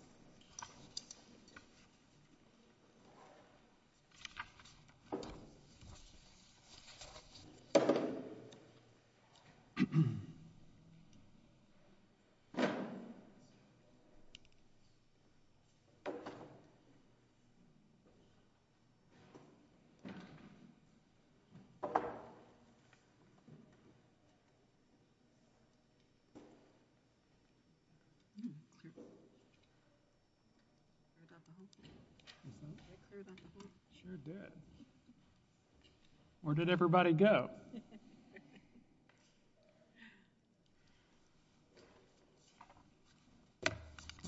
I don't know if I cleared that. Sure did. Where did everybody go?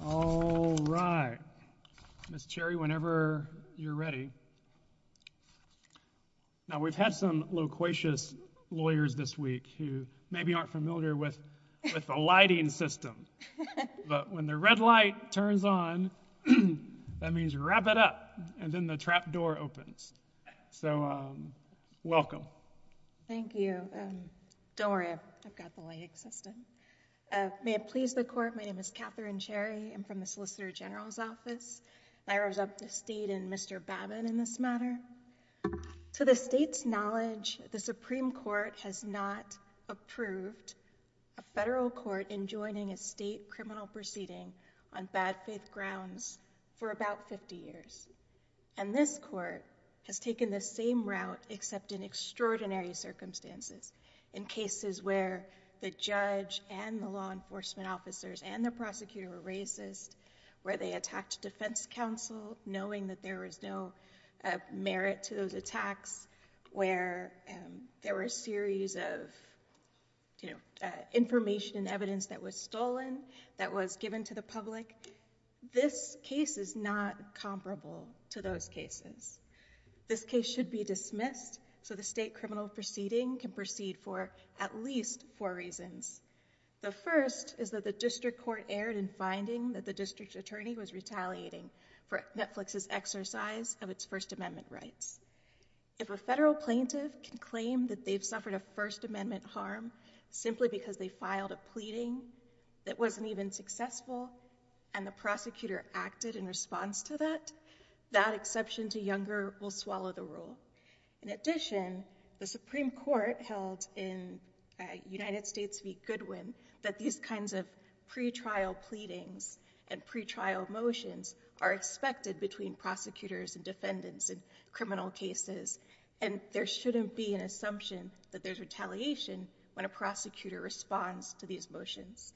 All right. Miss Cherry, whenever you're ready. Now we've had some loquacious lawyers this week who maybe aren't familiar with the lighting system. But when the red light turns on, that means wrap it up and then the trap door opens. So welcome. Thank you. Don't worry. I've got the light assistant. May it please the court. My name is Catherine Cherry. I'm from the Solicitor General's office. I was up to state and Mr. Babin in this matter. To the state's knowledge, the Supreme Court has not approved a federal court in joining a state criminal proceeding on bad faith grounds for about 50 years. And this court has taken the same route, except in extraordinary circumstances. In cases where the judge and the law enforcement officers and the prosecutor were racist, where they attacked defense counsel knowing that there was no merit to those attacks, where there were a series of information and evidence that was stolen, that was given to the public. This case is not comparable to those cases. This case should be dismissed so the state criminal proceeding can proceed for at least four reasons. The first is that the district court erred in finding that the district attorney was retaliating for Netflix's exercise of its First Amendment rights. If a federal plaintiff can claim that they've suffered a First Amendment harm simply because they filed a pleading that wasn't even successful and the prosecutor acted in response to that, that exception to Younger will swallow the rule. In addition, the Supreme Court held in United States v. Goodwin that these kinds of pretrial pleadings and pretrial motions are expected between prosecutors and defendants in criminal cases and there shouldn't be an assumption that there's retaliation when a prosecutor responds to these motions.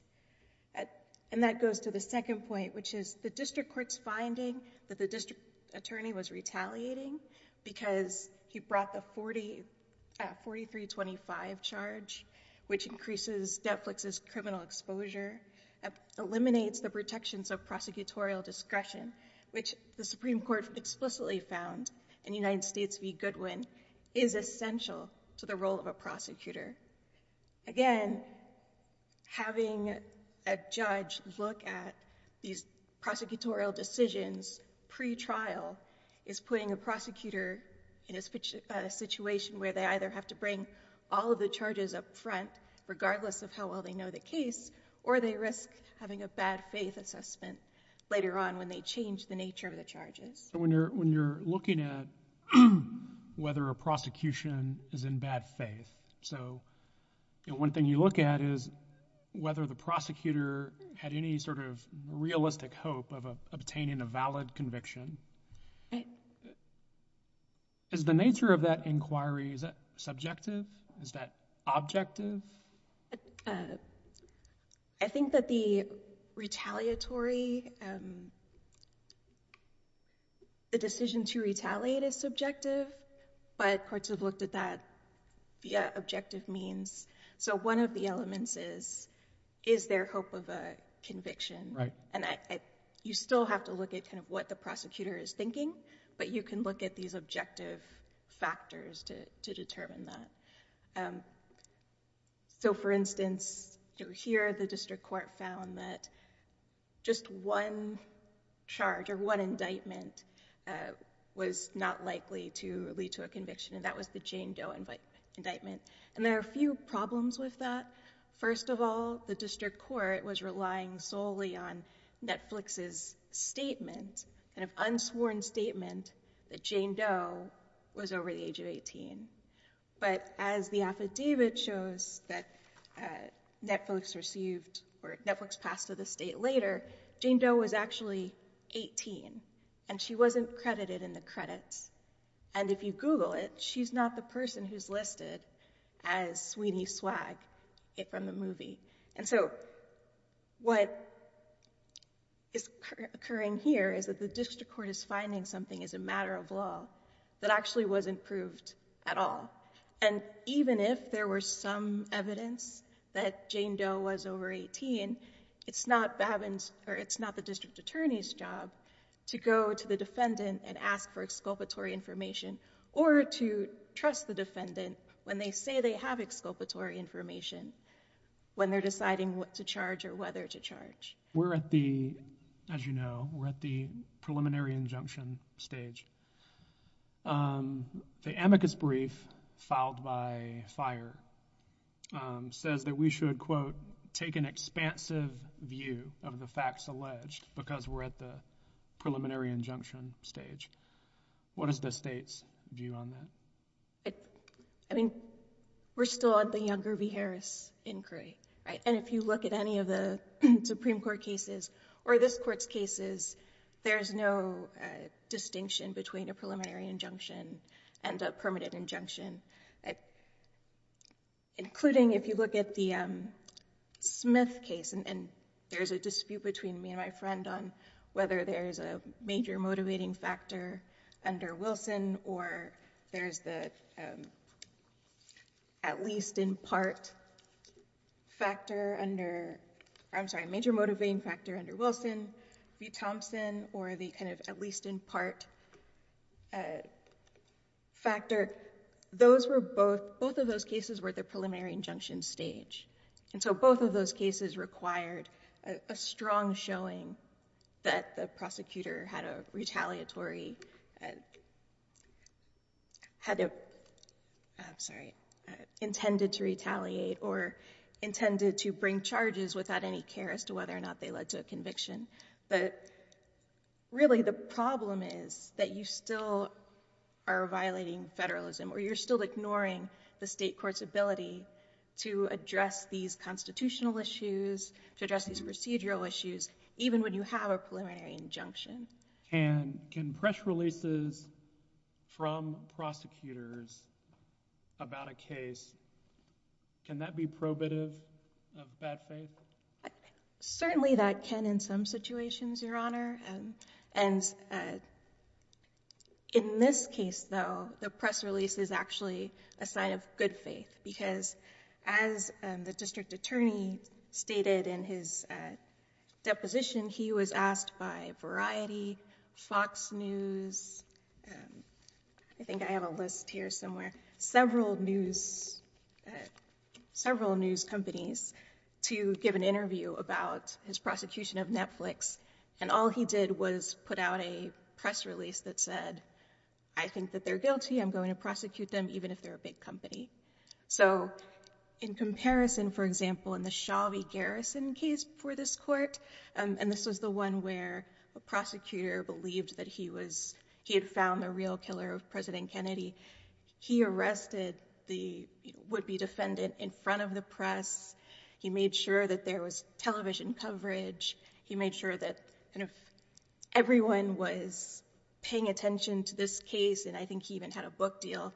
And that goes to the second point, which is the district court's finding that the district attorney was retaliating because he brought the 4325 charge, which increases Netflix's criminal exposure, eliminates the protections of prosecutorial discretion, which the Supreme Court explicitly found in United States v. Goodwin, is essential to the role of a prosecutor. Again, having a judge look at these prosecutorial decisions pretrial is putting a prosecutor in a situation where they either have to bring all of the charges up front regardless of how well they know the case or they risk having a bad faith assessment later on when they change the nature of the charges. When you're looking at whether a prosecution is in bad faith, so one thing you look at is whether the prosecutor had any sort of realistic hope of obtaining a valid conviction. Is the nature of that inquiry, is that subjective? Is that objective? I think that the retaliatory, the decision to retaliate is subjective, but courts have looked at that via objective means. So one of the elements is, is there hope of a conviction? Right. You still have to look at what the prosecutor is thinking, but you can look at these objective factors to determine that. For instance, here the district court found that just one charge or one indictment was not likely to lead to a conviction, and that was the Jane Doe indictment. There are a few problems with that. First of all, the district court was relying solely on Netflix's statement, an unsworn statement that Jane Doe was over the age of 18. But as the affidavit shows that Netflix passed to the state later, Jane Doe was actually 18, and she wasn't credited in the credits. And if you Google it, she's not the person who's listed as Sweeney Swag from the movie. And so what is occurring here is that the district court is finding something as a matter of law that actually wasn't proved at all. And even if there were some evidence that Jane Doe was over 18, it's not the district attorney's job to go to the defendant and ask for exculpatory information or to trust the defendant when they say they have exculpatory information when they're deciding what to charge or whether to charge. We're at the, as you know, we're at the preliminary injunction stage. The amicus brief filed by FIRE says that we should, quote, take an expansive view of the facts alleged because we're at the preliminary injunction stage. What is the state's view on that? I mean, we're still at the younger v. Harris inquiry, right? And if you look at any of the Supreme Court cases or this Court's cases, there's no distinction between a preliminary injunction and a permanent injunction, including if you look at the Smith case, and there's a dispute between me and my friend on whether there's a major motivating factor under Wilson or there's the at least in part factor under, I'm sorry, major motivating factor under Wilson v. Thompson or the kind of at least in part factor. Those were both, both of those cases were at the preliminary injunction stage. And so both of those cases required a strong showing that the prosecutor had a retaliatory, had a, I'm sorry, intended to retaliate or intended to bring charges without any care as to whether or not they led to a conviction. But really the problem is that you still are violating federalism or you're still ignoring the state court's ability to address these constitutional issues, to address these procedural issues, even when you have a preliminary injunction. And can press releases from prosecutors about a case, can that be probative of bad faith? Certainly that can in some situations, Your Honor. And in this case, though, the press release is actually a sign of good faith because as the district attorney stated in his deposition, he was asked by Variety, Fox News, I think I have a list here somewhere, several news companies to give an interview about his prosecution of Netflix. And all he did was put out a press release that said, I think that they're guilty. I'm going to prosecute them even if they're a big company. So in comparison, for example, in the Chauvy-Garrison case for this court, and this was the one where a prosecutor believed that he was, he had found the real killer of President Kennedy. He arrested the would-be defendant in front of the press. He made sure that there was television coverage. He made sure that everyone was paying attention to this case, and I think he even had a book deal.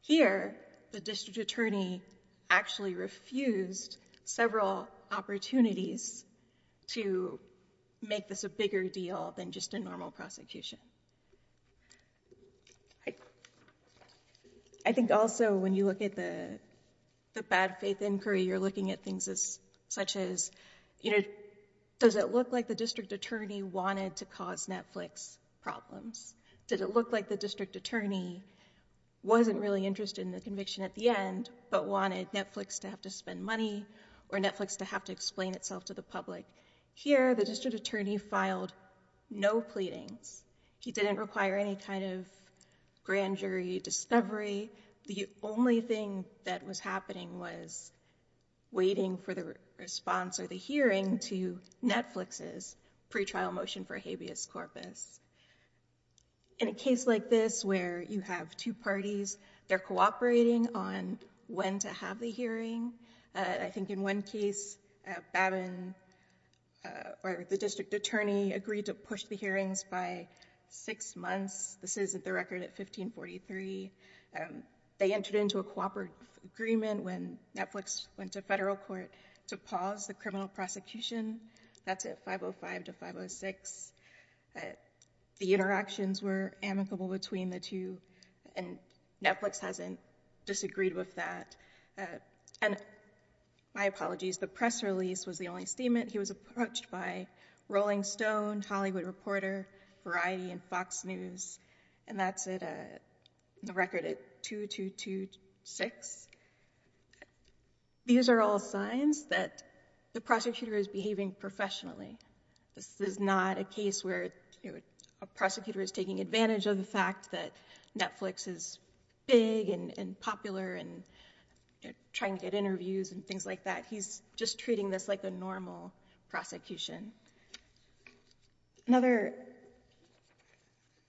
Here, the district attorney actually refused several opportunities to make this a bigger deal than just a normal prosecution. I think also when you look at the bad faith inquiry, you're looking at things such as, you know, does it look like the district attorney wanted to cause Netflix problems? Did it look like the district attorney wasn't really interested in the conviction at the end but wanted Netflix to have to spend money or Netflix to have to explain itself to the public? Here, the district attorney filed no pleadings. He didn't require any kind of grand jury discovery. The only thing that was happening was waiting for the response or the hearing to Netflix's pretrial motion for habeas corpus. In a case like this where you have two parties, they're cooperating on when to have the hearing. I think in one case, Babin or the district attorney agreed to push the hearings by six months. This is the record at 1543. They entered into a cooperative agreement when Netflix went to federal court to pause the criminal prosecution. That's at 505 to 506. The interactions were amicable between the two, and Netflix hasn't disagreed with that. My apologies, the press release was the only statement. He was approached by Rolling Stone, Hollywood Reporter, Variety, and Fox News. That's the record at 2226. These are all signs that the prosecutor is behaving professionally. This is not a case where a prosecutor is taking advantage of the fact that Netflix is big and popular and trying to get interviews and things like that. He's just treating this like a normal prosecution. Another,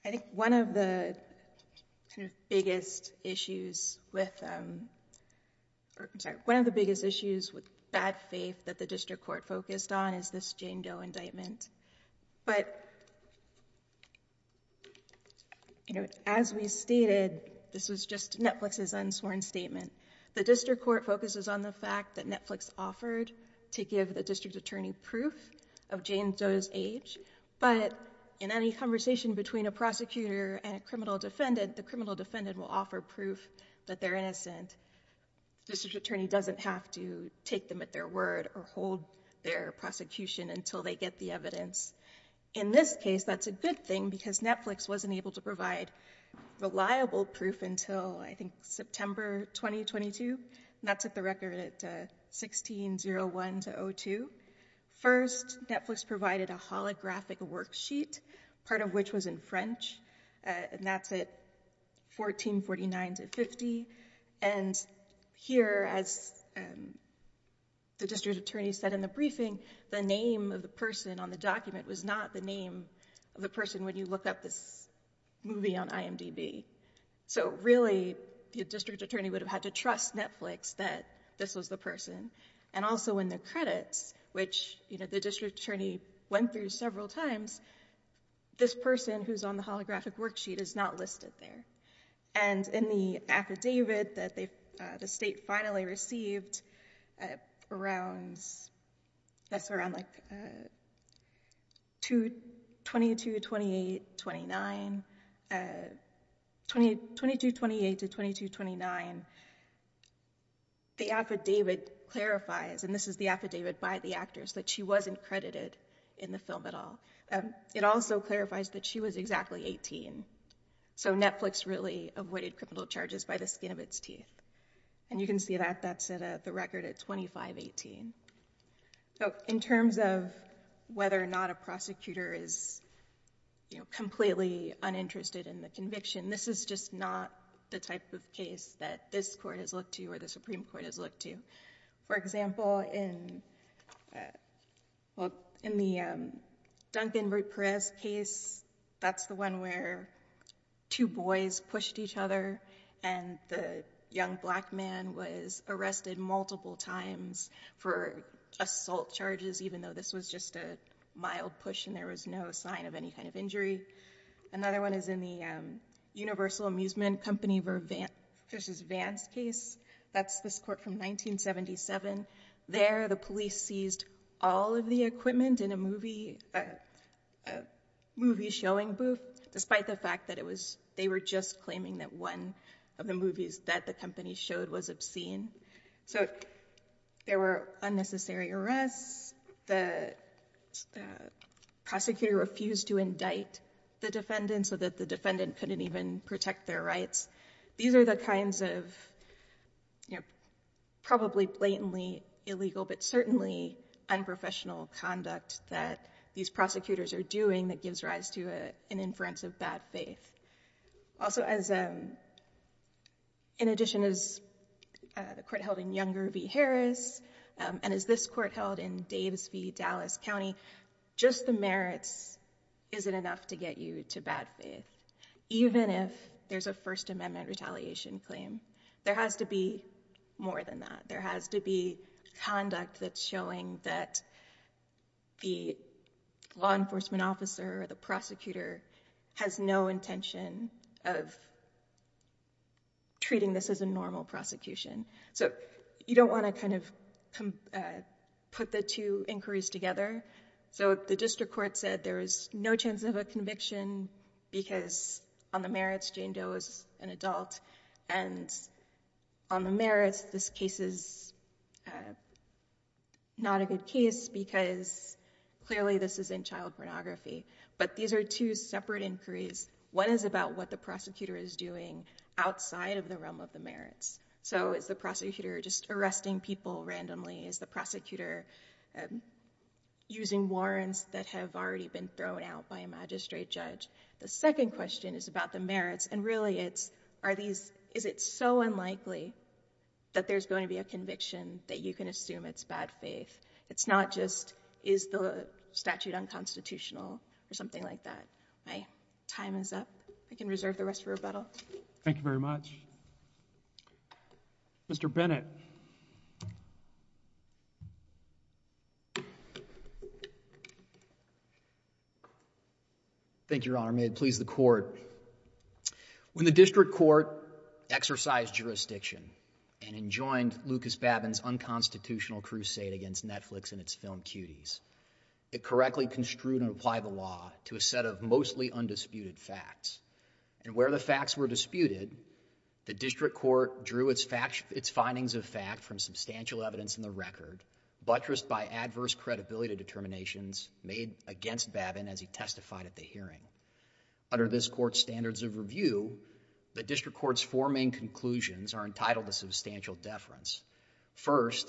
I think one of the biggest issues with bad faith that the district court focused on is this Jane Doe indictment. As we stated, this was just Netflix's unsworn statement. The district court focuses on the fact that Netflix offered to give the district attorney proof of Jane Doe's age, but in any conversation between a prosecutor and a criminal defendant, the criminal defendant will offer proof that they're innocent. The district attorney doesn't have to take them at their word or hold their prosecution until they get the evidence. In this case, that's a good thing because Netflix wasn't able to provide reliable proof until, I think, September 2022. That's at the record at 1601-02. First, Netflix provided a holographic worksheet, part of which was in French. That's at 1449-50. Here, as the district attorney said in the briefing, the name of the person on the document was not the name of the person when you look up this movie on IMDb. Really, the district attorney would have had to trust Netflix that this was the person. Also, in the credits, which the district attorney went through several times, this person who's on the holographic worksheet is not listed there. In the affidavit that the state finally received around 2228-2229, the affidavit clarifies, and this is the affidavit by the actors, that she wasn't credited in the film at all. It also clarifies that she was exactly 18. Netflix really avoided criminal charges by the skin of its teeth. You can see that. That's at the record at 2518. In terms of whether or not a prosecutor is completely uninterested in the conviction, this is just not the type of case that this court has looked to or the Supreme Court has looked to. For example, in the Duncan Brute Perez case, that's the one where two boys pushed each other and the young black man was arrested multiple times for assault charges, even though this was just a mild push and there was no sign of any kind of injury. Another one is in the Universal Amusement Company versus Vans case. That's this court from 1977. There, the police seized all of the equipment in a movie showing booth, despite the fact that they were just claiming that one of the movies that the company showed was obscene. So there were unnecessary arrests. The prosecutor refused to indict the defendant so that the defendant couldn't even protect their rights. These are the kinds of probably blatantly illegal but certainly unprofessional conduct that these prosecutors are doing that gives rise to an inference of bad faith. Also, in addition, as the court held in Younger v. Harris and as this court held in Daves v. Dallas County, just the merits isn't enough to get you to bad faith, even if there's a First Amendment retaliation claim. There has to be more than that. There has to be conduct that's showing that the law enforcement officer or the prosecutor has no intention of treating this as a normal prosecution. So you don't want to kind of put the two inquiries together. So the district court said there is no chance of a conviction because on the merits, Jane Doe is an adult, and on the merits, this case is not a good case because clearly this is in child pornography. But these are two separate inquiries. One is about what the prosecutor is doing outside of the realm of the merits. So is the prosecutor just arresting people randomly? Is the prosecutor using warrants that have already been thrown out by a magistrate judge? The second question is about the merits, and really it's, is it so unlikely that there's going to be a conviction that you can assume it's bad faith? It's not just, is the statute unconstitutional or something like that. My time is up. I can reserve the rest for rebuttal. Thank you very much. Mr. Bennett. Thank you, Your Honor. May it please the court. When the district court exercised jurisdiction and enjoined Lucas Babin's unconstitutional crusade against Netflix and its film cuties, it correctly construed and applied the law to a set of mostly undisputed facts. And where the facts were disputed, the district court drew its findings of fact from substantial evidence in the record, buttressed by adverse credibility determinations, made against Babin as he testified at the hearing. Under this court's standards of review, the district court's four main conclusions are entitled to substantial deference. First,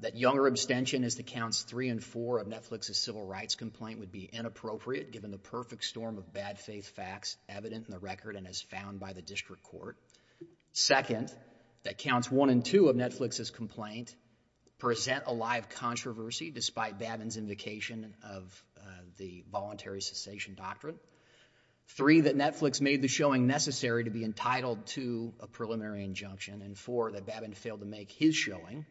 that younger abstention as to counts three and four of Netflix's civil rights complaint would be inappropriate, given the perfect storm of bad faith facts evident in the record and as found by the district court. Second, that counts one and two of Netflix's complaint present a lie of controversy, despite Babin's invocation of the voluntary cessation doctrine. Three, that Netflix made the showing necessary to be entitled to a preliminary injunction. And four, that Babin failed to make his showing,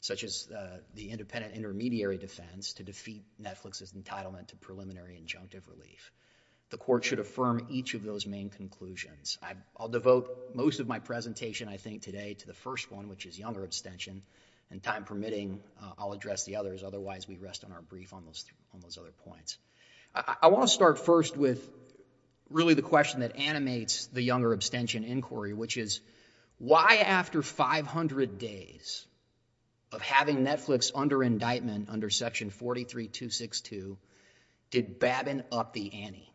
such as the independent intermediary defense, to defeat Netflix's entitlement to preliminary injunctive relief. The court should affirm each of those main conclusions. I'll devote most of my presentation, I think, today to the first one, which is younger abstention. And time permitting, I'll address the others. Otherwise, we rest on our brief on those other points. I want to start first with really the question that animates the younger abstention inquiry, which is why, after 500 days of having Netflix under indictment under Section 43262, did Babin up the ante,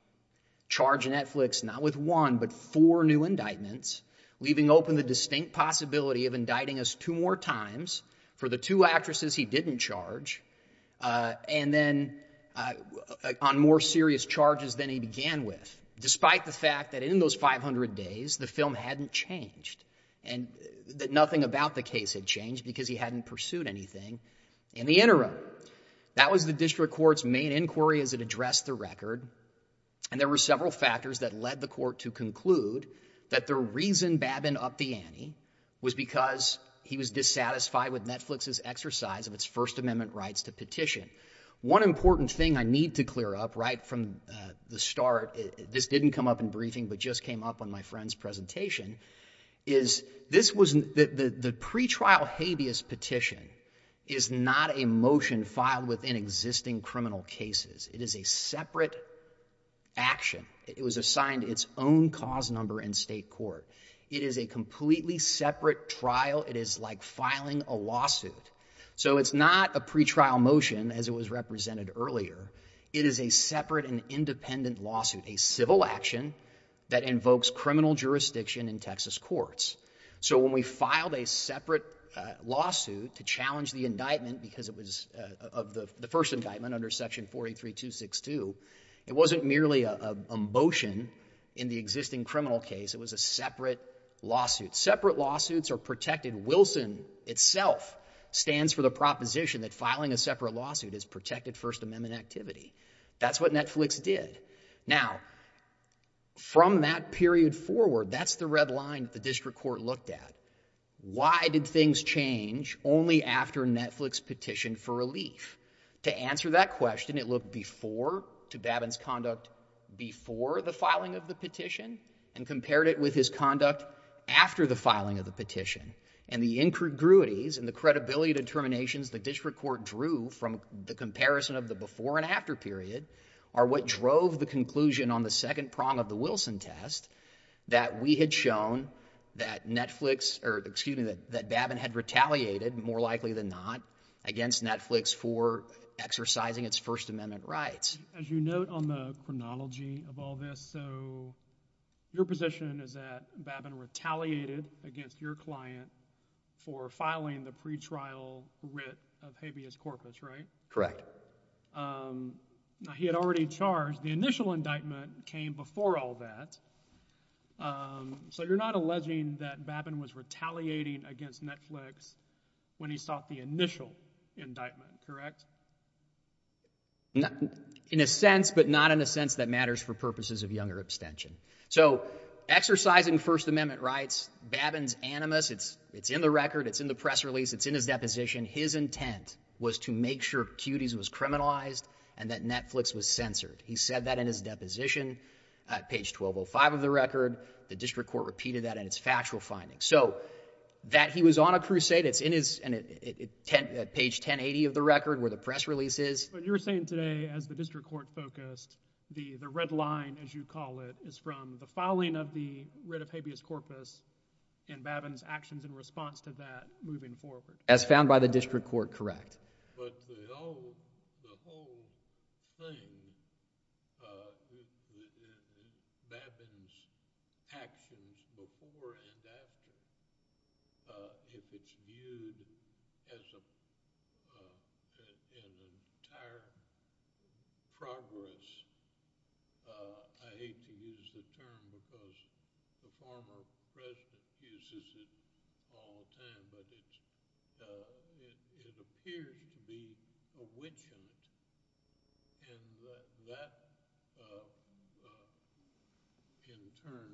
charge Netflix not with one, but four new indictments, leaving open the distinct possibility of indicting us two more times for the two actresses he didn't charge, and then on more serious charges than he began with, despite the fact that in those 500 days, the film hadn't changed, and that nothing about the case had changed because he hadn't pursued anything in the interim. That was the district court's main inquiry as it addressed the record, and there were several factors that led the court to conclude that the reason Babin upped the ante was because he was dissatisfied with Netflix's exercise of its First Amendment rights to petition. One important thing I need to clear up, right from the start, this didn't come up in briefing, but just came up on my friend's presentation, is this was... The pretrial habeas petition is not a motion filed within existing criminal cases. It is a separate action. It was assigned its own cause number in state court. It is a completely separate trial. It is like filing a lawsuit. So it's not a pretrial motion, as it was represented earlier. It is a separate and independent lawsuit, a civil action that invokes criminal jurisdiction in Texas courts. So when we filed a separate lawsuit to challenge the indictment because it was the first indictment under Section 43262, it wasn't merely a motion in the existing criminal case. It was a separate lawsuit. Separate lawsuits are protected. Wilson itself stands for the proposition that filing a separate lawsuit is protected First Amendment activity. That's what Netflix did. Now, from that period forward, that's the red line the district court looked at. Why did things change only after Netflix petitioned for relief? To answer that question, it looked before, to Babin's conduct before the filing of the petition and compared it with his conduct after the filing of the petition. And the incongruities and the credibility determinations the district court drew from the comparison of the before and after period are what drove the conclusion on the second prong of the Wilson test that we had shown that Netflix, or excuse me, that Babin had retaliated, more likely than not, against Netflix for exercising its First Amendment rights. As you note on the chronology of all this, so your position is that Babin retaliated against your client for filing the pretrial writ of habeas corpus, right? Correct. Now, he had already charged. The initial indictment came before all that. So you're not alleging that Babin was retaliating against Netflix when he sought the initial indictment, correct? In a sense, but not in a sense that matters for purposes of younger abstention. So, exercising First Amendment rights, Babin's animus, it's in the record, it's in the press release, it's in his deposition, his intent was to make sure Cuties was criminalized and that Netflix was censored. He said that in his deposition. Page 1205 of the record, the district court repeated that in its factual findings. So, that he was on a crusade, it's in his... Page 1080 of the record, where the press release is. You're saying today, as the district court focused, the red line, as you call it, is from the filing of the writ of habeas corpus and Babin's actions in response to that moving forward. As found by the district court, correct. But the whole thing... Babin's actions before and after, if it's viewed as an entire progress, I hate to use the term because the former president uses it all the time, but it appears to be a witch hunt. And that, in turn,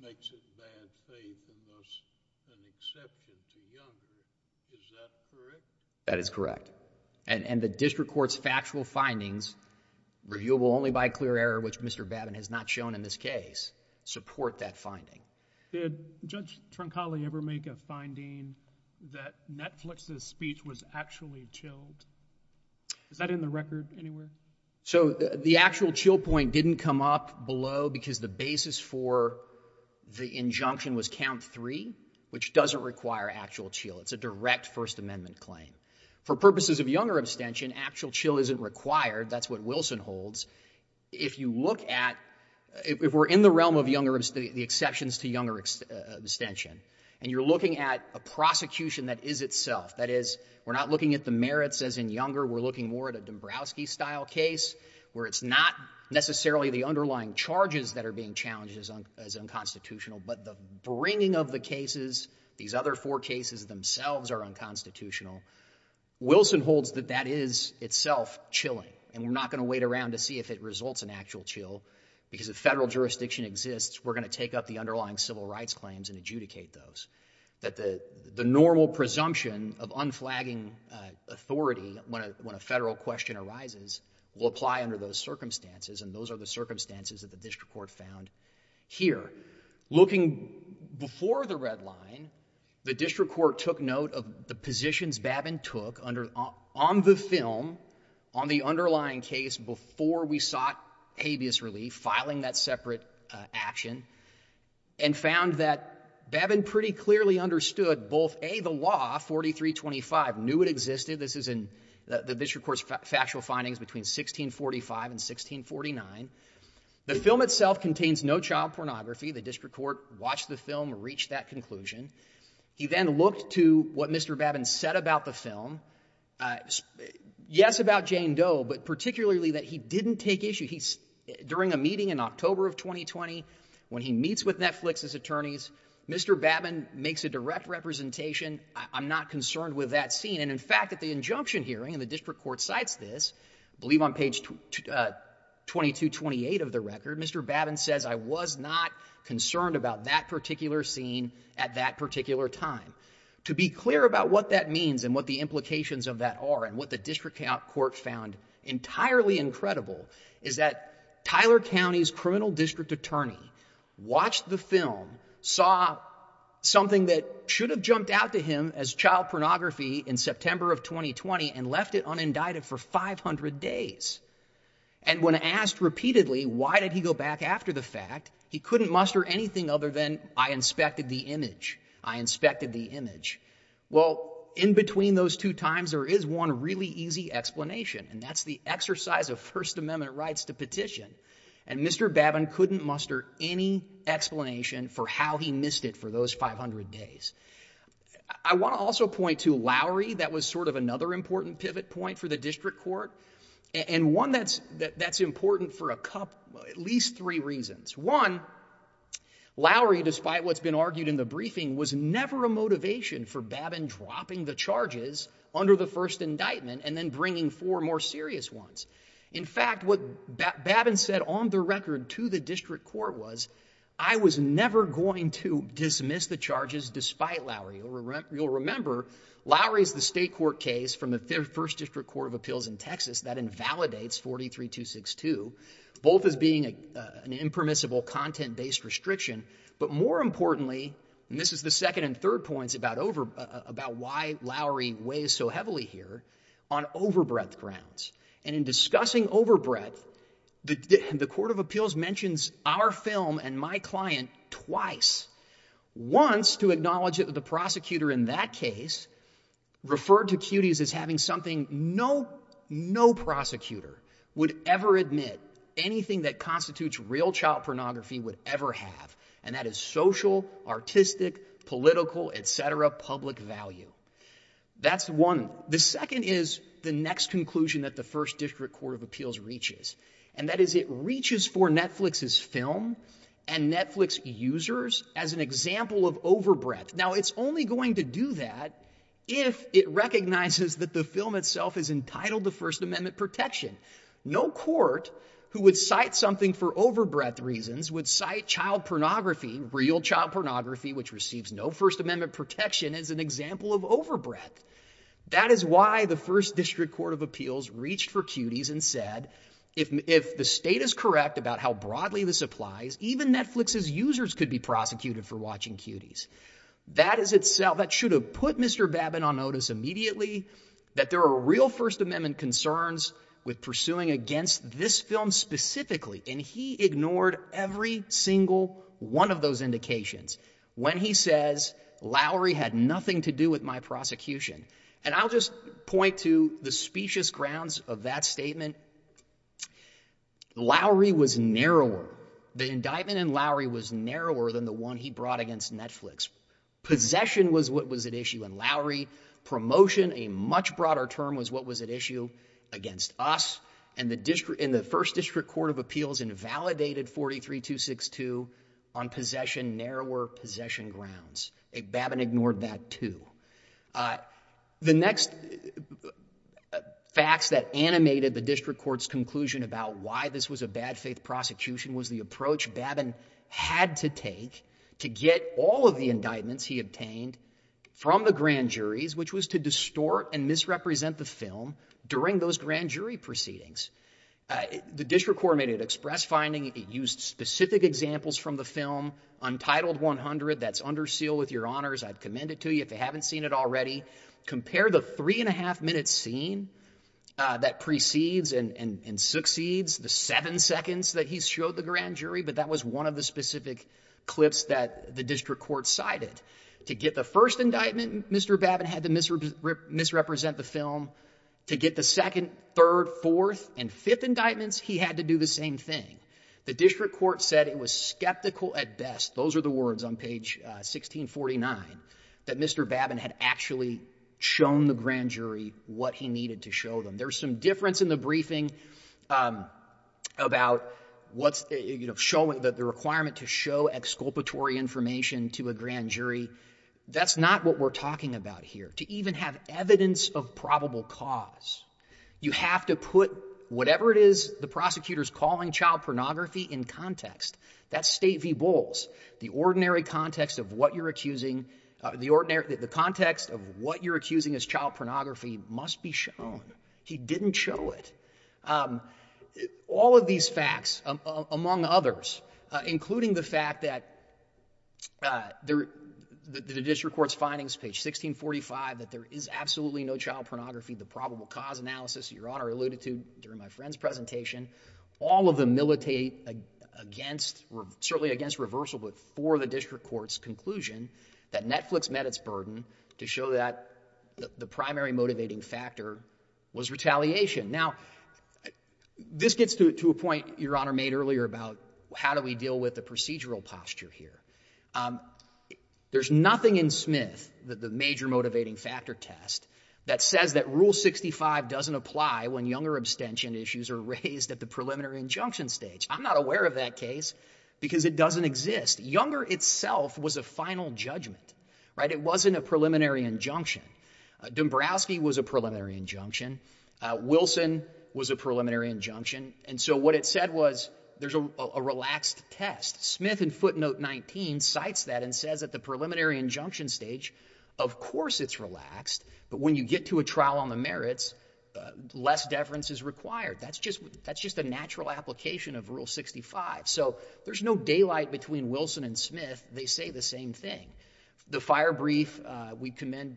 makes it bad faith and thus an exception to younger. Is that correct? That is correct. And the district court's factual findings, reviewable only by clear error, which Mr. Babin has not shown in this case, support that finding. Did Judge Troncali ever make a finding that Netflix's speech was actually chilled? Is that in the record anywhere? So, the actual chill point didn't come up below because the basis for the injunction was count three, which doesn't require actual chill. It's a direct First Amendment claim. For purposes of younger abstention, actual chill isn't required. That's what Wilson holds. If you look at... If we're in the realm of the exceptions to younger abstention and you're looking at a prosecution that is itself, that is, we're not looking at the merits as in younger, we're looking more at a Dombrowski-style case where it's not necessarily the underlying charges that are being challenged as unconstitutional, but the bringing of the cases, these other four cases themselves are unconstitutional, Wilson holds that that is itself chilling, and we're not going to wait around to see if it results in actual chill because if federal jurisdiction exists, we're going to take up the underlying civil rights claims and adjudicate those, that the normal presumption of unflagging authority when a federal question arises will apply under those circumstances, and those are the circumstances that the district court found here. Looking before the red line, the district court took note of the positions Babin took on the film, on the underlying case, before we sought habeas relief, filing that separate action, and found that Babin pretty clearly understood both, A, the law, 4325, knew it existed. This is in the district court's factual findings between 1645 and 1649. The film itself contains no child pornography. The district court watched the film, reached that conclusion. He then looked to what Mr. Babin said about the film, yes, about Jane Doe, but particularly that he didn't take issue. During a meeting in October of 2020, when he meets with Netflix's attorneys, Mr. Babin makes a direct representation, I'm not concerned with that scene, and in fact, at the injunction hearing, and the district court cites this, I believe on page 2228 of the record, Mr. Babin says, I was not concerned about that particular scene at that particular time. To be clear about what that means and what the implications of that are and what the district court found entirely incredible is that Tyler County's criminal district attorney watched the film, saw something that should have jumped out to him as child pornography in September of 2020 and left it unindicted for 500 days. And when asked repeatedly, why did he go back after the fact, he couldn't muster anything other than, I inspected the image, I inspected the image. Well, in between those two times, there is one really easy explanation, and that's the exercise of First Amendment rights to petition. And Mr. Babin couldn't muster any explanation for how he missed it for those 500 days. I want to also point to Lowry. That was sort of another important pivot point for the district court, and one that's important for at least three reasons. One, Lowry, despite what's been argued in the briefing, was never a motivation for Babin dropping the charges under the first indictment and then bringing four more serious ones. In fact, what Babin said on the record to the district court was, I was never going to dismiss the charges despite Lowry. You'll remember, Lowry is the state court case from the First District Court of Appeals in Texas that invalidates 43262, both as being an impermissible content-based restriction, but more importantly, and this is the second and third points about why Lowry weighs so heavily here, on overbreadth grounds. And in discussing overbreadth, the Court of Appeals mentions our film and my client twice, once to acknowledge that the prosecutor in that case referred to Cuties as having something no prosecutor would ever admit, anything that constitutes real child pornography would ever have, and that is social, artistic, political, et cetera, public value. That's one. The second is the next conclusion that the First District Court of Appeals reaches, and that is it reaches for Netflix's film and Netflix users as an example of overbreadth. Now, it's only going to do that if it recognizes that the film itself is entitled to First Amendment protection. No court who would cite something for overbreadth reasons would cite child pornography, real child pornography, which receives no First Amendment protection, as an example of overbreadth. That is why the First District Court of Appeals reached for Cuties and said, if the state is correct about how broadly this applies, even Netflix's users could be prosecuted for watching Cuties. That should have put Mr. Babin on notice immediately that there are real First Amendment concerns with pursuing against this film specifically, and he ignored every single one of those indications when he says Lowry had nothing to do with my prosecution. And I'll just point to the specious grounds of that statement Lowry was narrower. The indictment in Lowry was narrower than the one he brought against Netflix. Possession was what was at issue in Lowry. Promotion, a much broader term, was what was at issue against us. And the First District Court of Appeals invalidated 43-262 on possession, narrower possession grounds. Babin ignored that, too. The next facts that animated the district court's conclusion about why this was a bad-faith prosecution was the approach Babin had to take to get all of the indictments he obtained from the grand juries, which was to distort and misrepresent the film during those grand jury proceedings. The district court made an express finding. It used specific examples from the film. Untitled 100, that's under seal with your honors. I'd commend it to you if you haven't seen it already. Compare the three-and-a-half-minute scene that precedes and succeeds the seven seconds that he showed the grand jury, but that was one of the specific clips that the district court cited. To get the first indictment, Mr. Babin had to misrepresent the film. To get the second, third, fourth, and fifth indictments, he had to do the same thing. The district court said it was skeptical at best. Those are the words on page 1649 that Mr. Babin had actually shown the grand jury what he needed to show them. There's some difference in the briefing about the requirement to show exculpatory information to a grand jury. That's not what we're talking about here. To even have evidence of probable cause, you have to put whatever it is the prosecutor's calling child pornography in context. That's state v. Bowles. The ordinary context of what you're accusing... The context of what you're accusing as child pornography must be shown. He didn't show it. All of these facts, among others, including the fact that... the district court's findings, page 1645, that there is absolutely no child pornography, the probable cause analysis Your Honor alluded to during my friend's presentation, all of them militate against... certainly against reversal, but for the district court's conclusion that Netflix met its burden to show that the primary motivating factor was retaliation. Now, this gets to a point Your Honor made earlier about how do we deal with the procedural posture here. There's nothing in Smith, the major motivating factor test, that says that Rule 65 doesn't apply when younger abstention issues are raised at the preliminary injunction stage. I'm not aware of that case because it doesn't exist. Younger itself was a final judgment. It wasn't a preliminary injunction. Dombrowski was a preliminary injunction. Wilson was a preliminary injunction. And so what it said was there's a relaxed test. Smith in footnote 19 cites that and says at the preliminary injunction stage, of course it's relaxed, but when you get to a trial on the merits, less deference is required. That's just a natural application of Rule 65. So there's no daylight between Wilson and Smith. They say the same thing. The fire brief we commend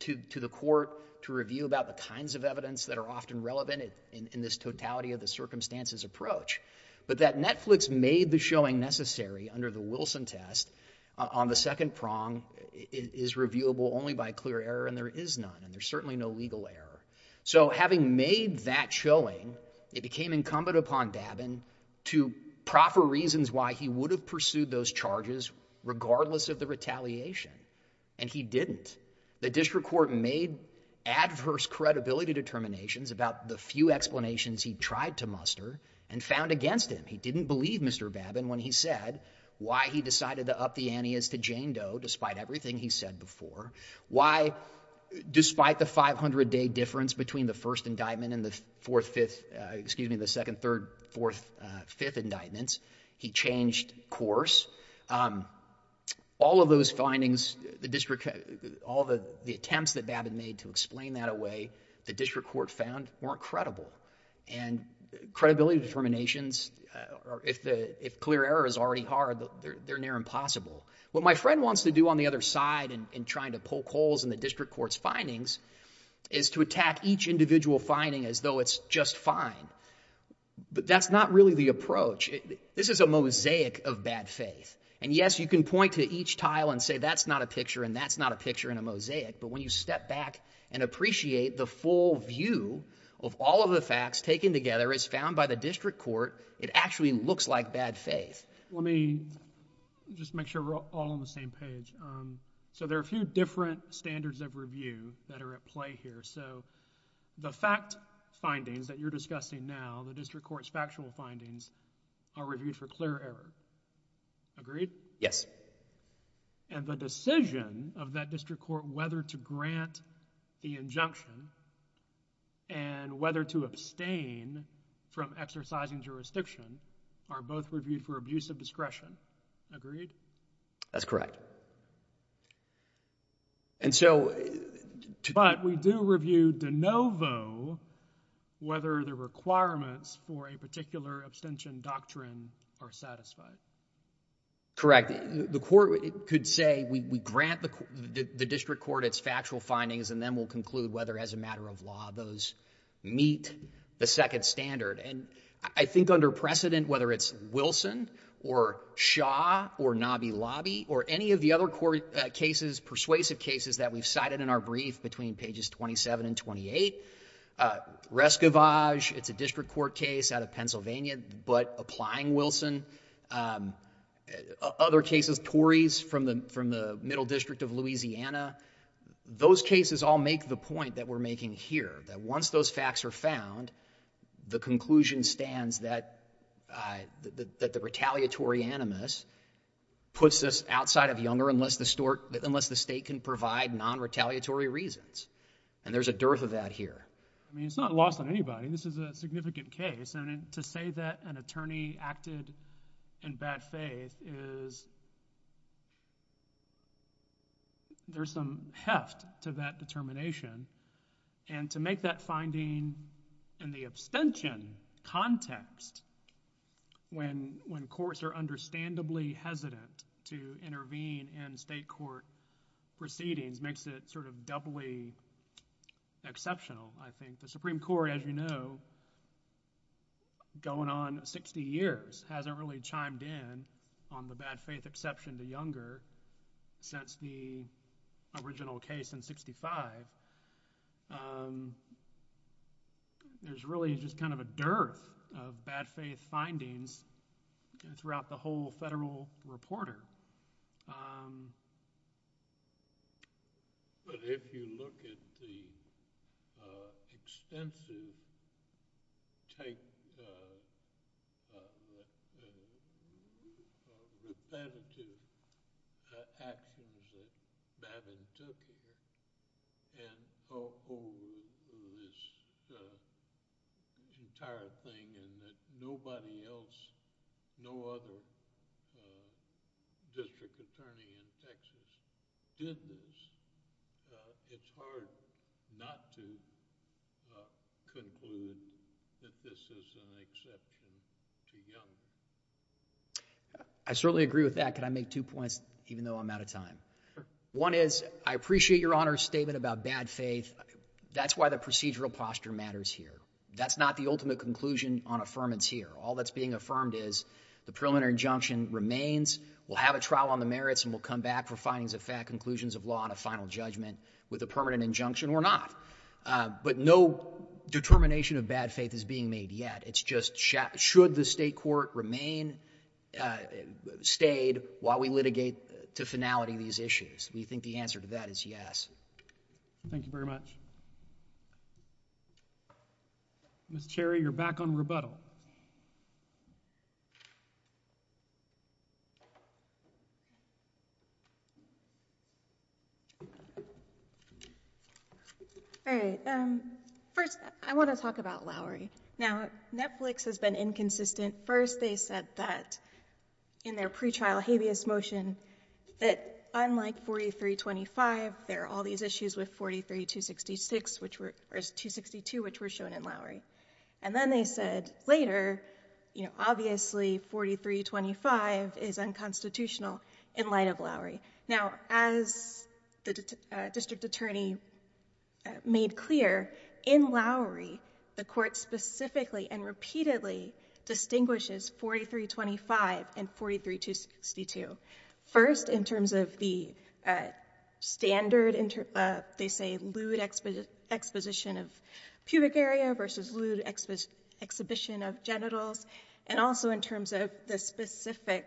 to the court to review about the kinds of evidence that are often relevant in this totality of the circumstances approach. But that Netflix made the showing necessary under the Wilson test on the second prong is reviewable only by clear error, and there is none, and there's certainly no legal error. So having made that showing, it became incumbent upon Babin to proffer reasons why he would have pursued those charges regardless of the retaliation, and he didn't. The district court made adverse credibility determinations about the few explanations he tried to muster and found against him. He didn't believe Mr. Babin when he said why he decided to up the ante as to Jane Doe despite everything he said before, why, despite the 500-day difference between the first indictment and the fourth, fifth, excuse me, the second, third, fourth, fifth indictments, he changed course. All of those findings, all the attempts that Babin made to explain that away, the district court found weren't credible, and credibility determinations, if clear error is already hard, they're near impossible. What my friend wants to do on the other side in trying to poke holes in the district court's findings is to attack each individual finding as though it's just fine, but that's not really the approach. This is a mosaic of bad faith, and yes, you can point to each tile and say that's not a picture and that's not a picture in a mosaic, but when you step back and appreciate the full view of all of the facts taken together as found by the district court, it actually looks like bad faith. Let me just make sure we're all on the same page. So there are a few different standards of review that are at play here. So the fact findings that you're discussing now, the district court's factual findings, are reviewed for clear error. Agreed? Yes. And the decision of that district court whether to grant the injunction and whether to abstain from exercising jurisdiction are both reviewed for abuse of discretion. Agreed? That's correct. And so... But we do review de novo whether the requirements for a particular abstention doctrine are satisfied. Correct. The court could say we grant the district court its factual findings, and then we'll conclude whether as a matter of law those meet the second standard. And I think under precedent, whether it's Wilson or Shaw or Nobby Lobby or any of the other persuasive cases that we've cited in our brief between pages 27 and 28, Rescovage, it's a district court case out of Pennsylvania, but applying Wilson, other cases, Tories from the Middle District of Louisiana, those cases all make the point that we're making here, that once those facts are found, the conclusion stands that the retaliatory animus puts us outside of Younger unless the state can provide non-retaliatory reasons, and there's a dearth of that here. I mean, it's not lost on anybody. This is a significant case, and to say that an attorney acted in bad faith is... There's some heft to that determination, and to make that finding in the abstention context when courts are understandably hesitant to intervene in state court proceedings makes it sort of doubly exceptional, I think. The Supreme Court, as you know, going on 60 years, hasn't really chimed in on the bad faith exception to Younger since the original case in 65, but there's really just kind of a dearth of bad faith findings throughout the whole federal reporter. But if you look at the extensive take... repetitive actions that Bavin took here, all over this entire thing, and that nobody else, no other district attorney in Texas did this, it's hard not to conclude that this is an exception to Younger. I certainly agree with that. Can I make two points, even though I'm out of time? One is, I appreciate Your Honor's statement about bad faith. That's why the procedural posture matters here. That's not the ultimate conclusion on affirmance here. All that's being affirmed is the preliminary injunction remains, we'll have a trial on the merits, and we'll come back for findings of fact, conclusions of law, and a final judgment with a permanent injunction or not. But no determination of bad faith is being made yet. It's just should the state court remain, stayed while we litigate to finality these issues. We think the answer to that is yes. Thank you very much. Ms. Cherry, you're back on rebuttal. All right. First, I want to talk about Lowry. Now, Netflix has been inconsistent. First, they said that in their pretrial habeas motion that unlike 4325, there are all these issues with 43266, or 262, which were shown in Lowry. And then they said later, you know, obviously 4325 is unconstitutional in light of Lowry. Now, as the district attorney made clear, in Lowry, the court specifically and repeatedly distinguishes 4325 and 43262. First, in terms of the standard, they say lewd exposition of pubic area versus lewd exhibition of genitals, and also in terms of the specific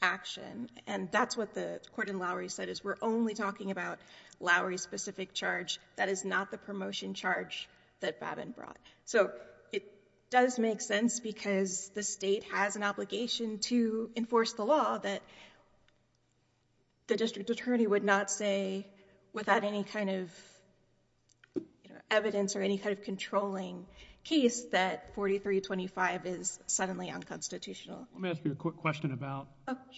action. And that's what the court in Lowry said, is we're only talking about Lowry's specific charge. That is not the promotion charge that Babin brought. So it does make sense, because the state has an obligation to enforce the law that the district attorney would not say without any kind of evidence or any kind of controlling case that 4325 is suddenly unconstitutional. Let me ask you a quick question about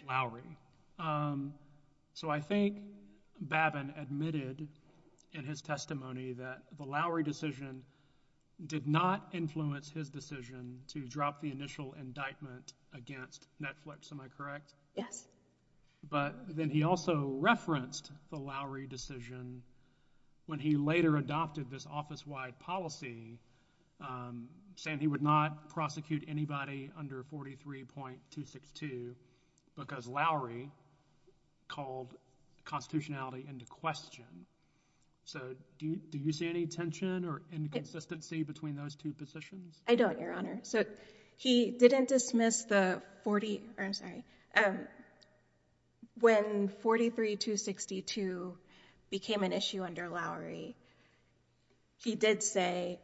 Lowry. So I think Babin admitted in his testimony that the Lowry decision did not influence his decision to drop the initial indictment against Netflix. Am I correct? Yes. But then he also referenced the Lowry decision when he later adopted this office-wide policy, saying he would not prosecute anybody under 43.262, because Lowry called constitutionality into question. So do you see any tension or inconsistency between those two positions? I don't, Your Honor. So he didn't dismiss the 40... Oh, I'm sorry. When 43.262 became an issue under Lowry, he did say,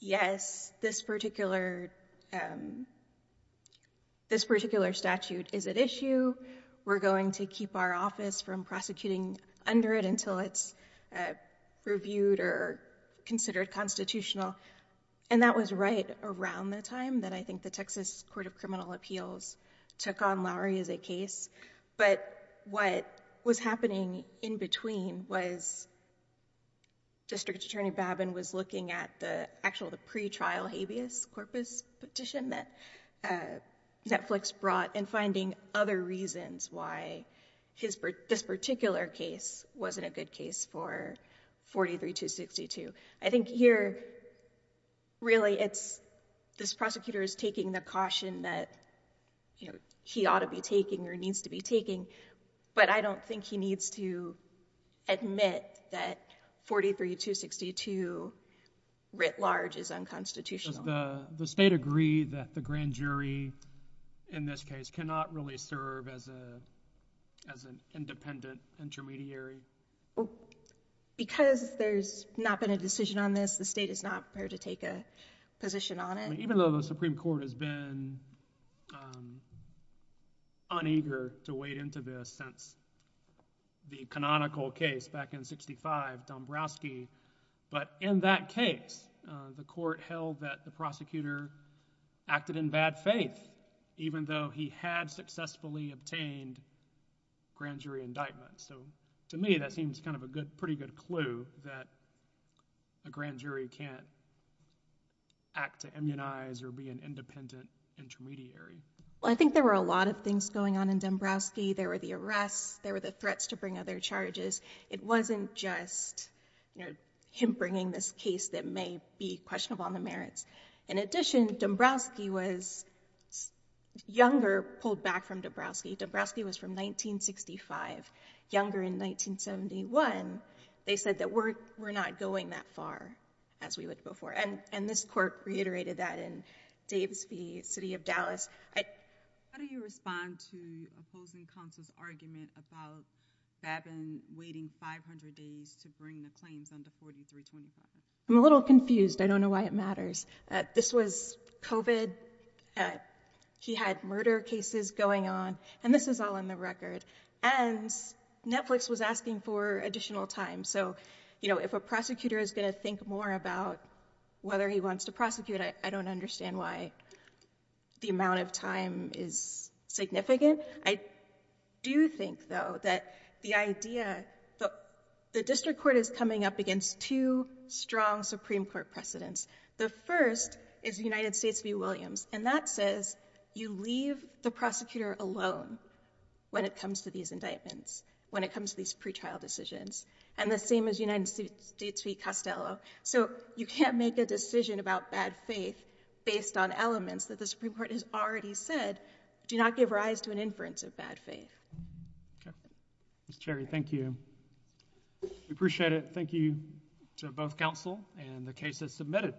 yes, this particular statute is at issue. We're going to keep our office from prosecuting under it unless it's reviewed or considered constitutional. And that was right around the time that I think the Texas Court of Criminal Appeals took on Lowry as a case. But what was happening in between was District Attorney Babin was looking at the actual pretrial habeas corpus petition that Netflix brought and finding other reasons why this particular case wasn't a good case for 43.262. I think here, really, this prosecutor is taking the caution that he ought to be taking or needs to be taking, but I don't think he needs to admit that 43.262 writ large is unconstitutional. Does the state agree that the grand jury in this case cannot really serve as an independent intermediary? Because there's not been a decision on this, the state is not prepared to take a position on it. Even though the Supreme Court has been uneager to wade into this since the canonical case back in 65, Dombrowski, but in that case, the court held that the prosecutor acted in bad faith, even though he had successfully obtained grand jury indictment. So to me, that seems kind of a pretty good clue that a grand jury can't act to immunize or be an independent intermediary. Well, I think there were a lot of things going on in Dombrowski. There were the arrests, there were the threats to bring other charges. It wasn't just him bringing this case that may be questionable on the merits. In addition, Dombrowski was younger, pulled back from Dombrowski. Dombrowski was from 1965, younger in 1971. They said that we're not going that far as we would before. And this court reiterated that in Davis v. City of Dallas. How do you respond to opposing counsel's argument about Babin waiting 500 days to bring the claims under 43.25? I'm a little confused. I don't know why it matters. This was COVID. He had murder cases going on, and this is all in the record. And Netflix was asking for additional time. So, you know, if a prosecutor is going to think more about whether he wants to prosecute, I don't understand why the amount of time is significant. I do think, though, that the idea, the district court is coming up against two strong Supreme Court precedents. The first is United States v. Williams, and that says you leave the prosecutor alone when it comes to these indictments, when it comes to these pretrial decisions, and the same as United States v. Costello. So you can't make a decision about bad faith based on elements that the Supreme Court has already said do not give rise to an inference of bad faith. Okay. Ms. Cherry, thank you. We appreciate it. Thank you to both counsel and the cases submitted.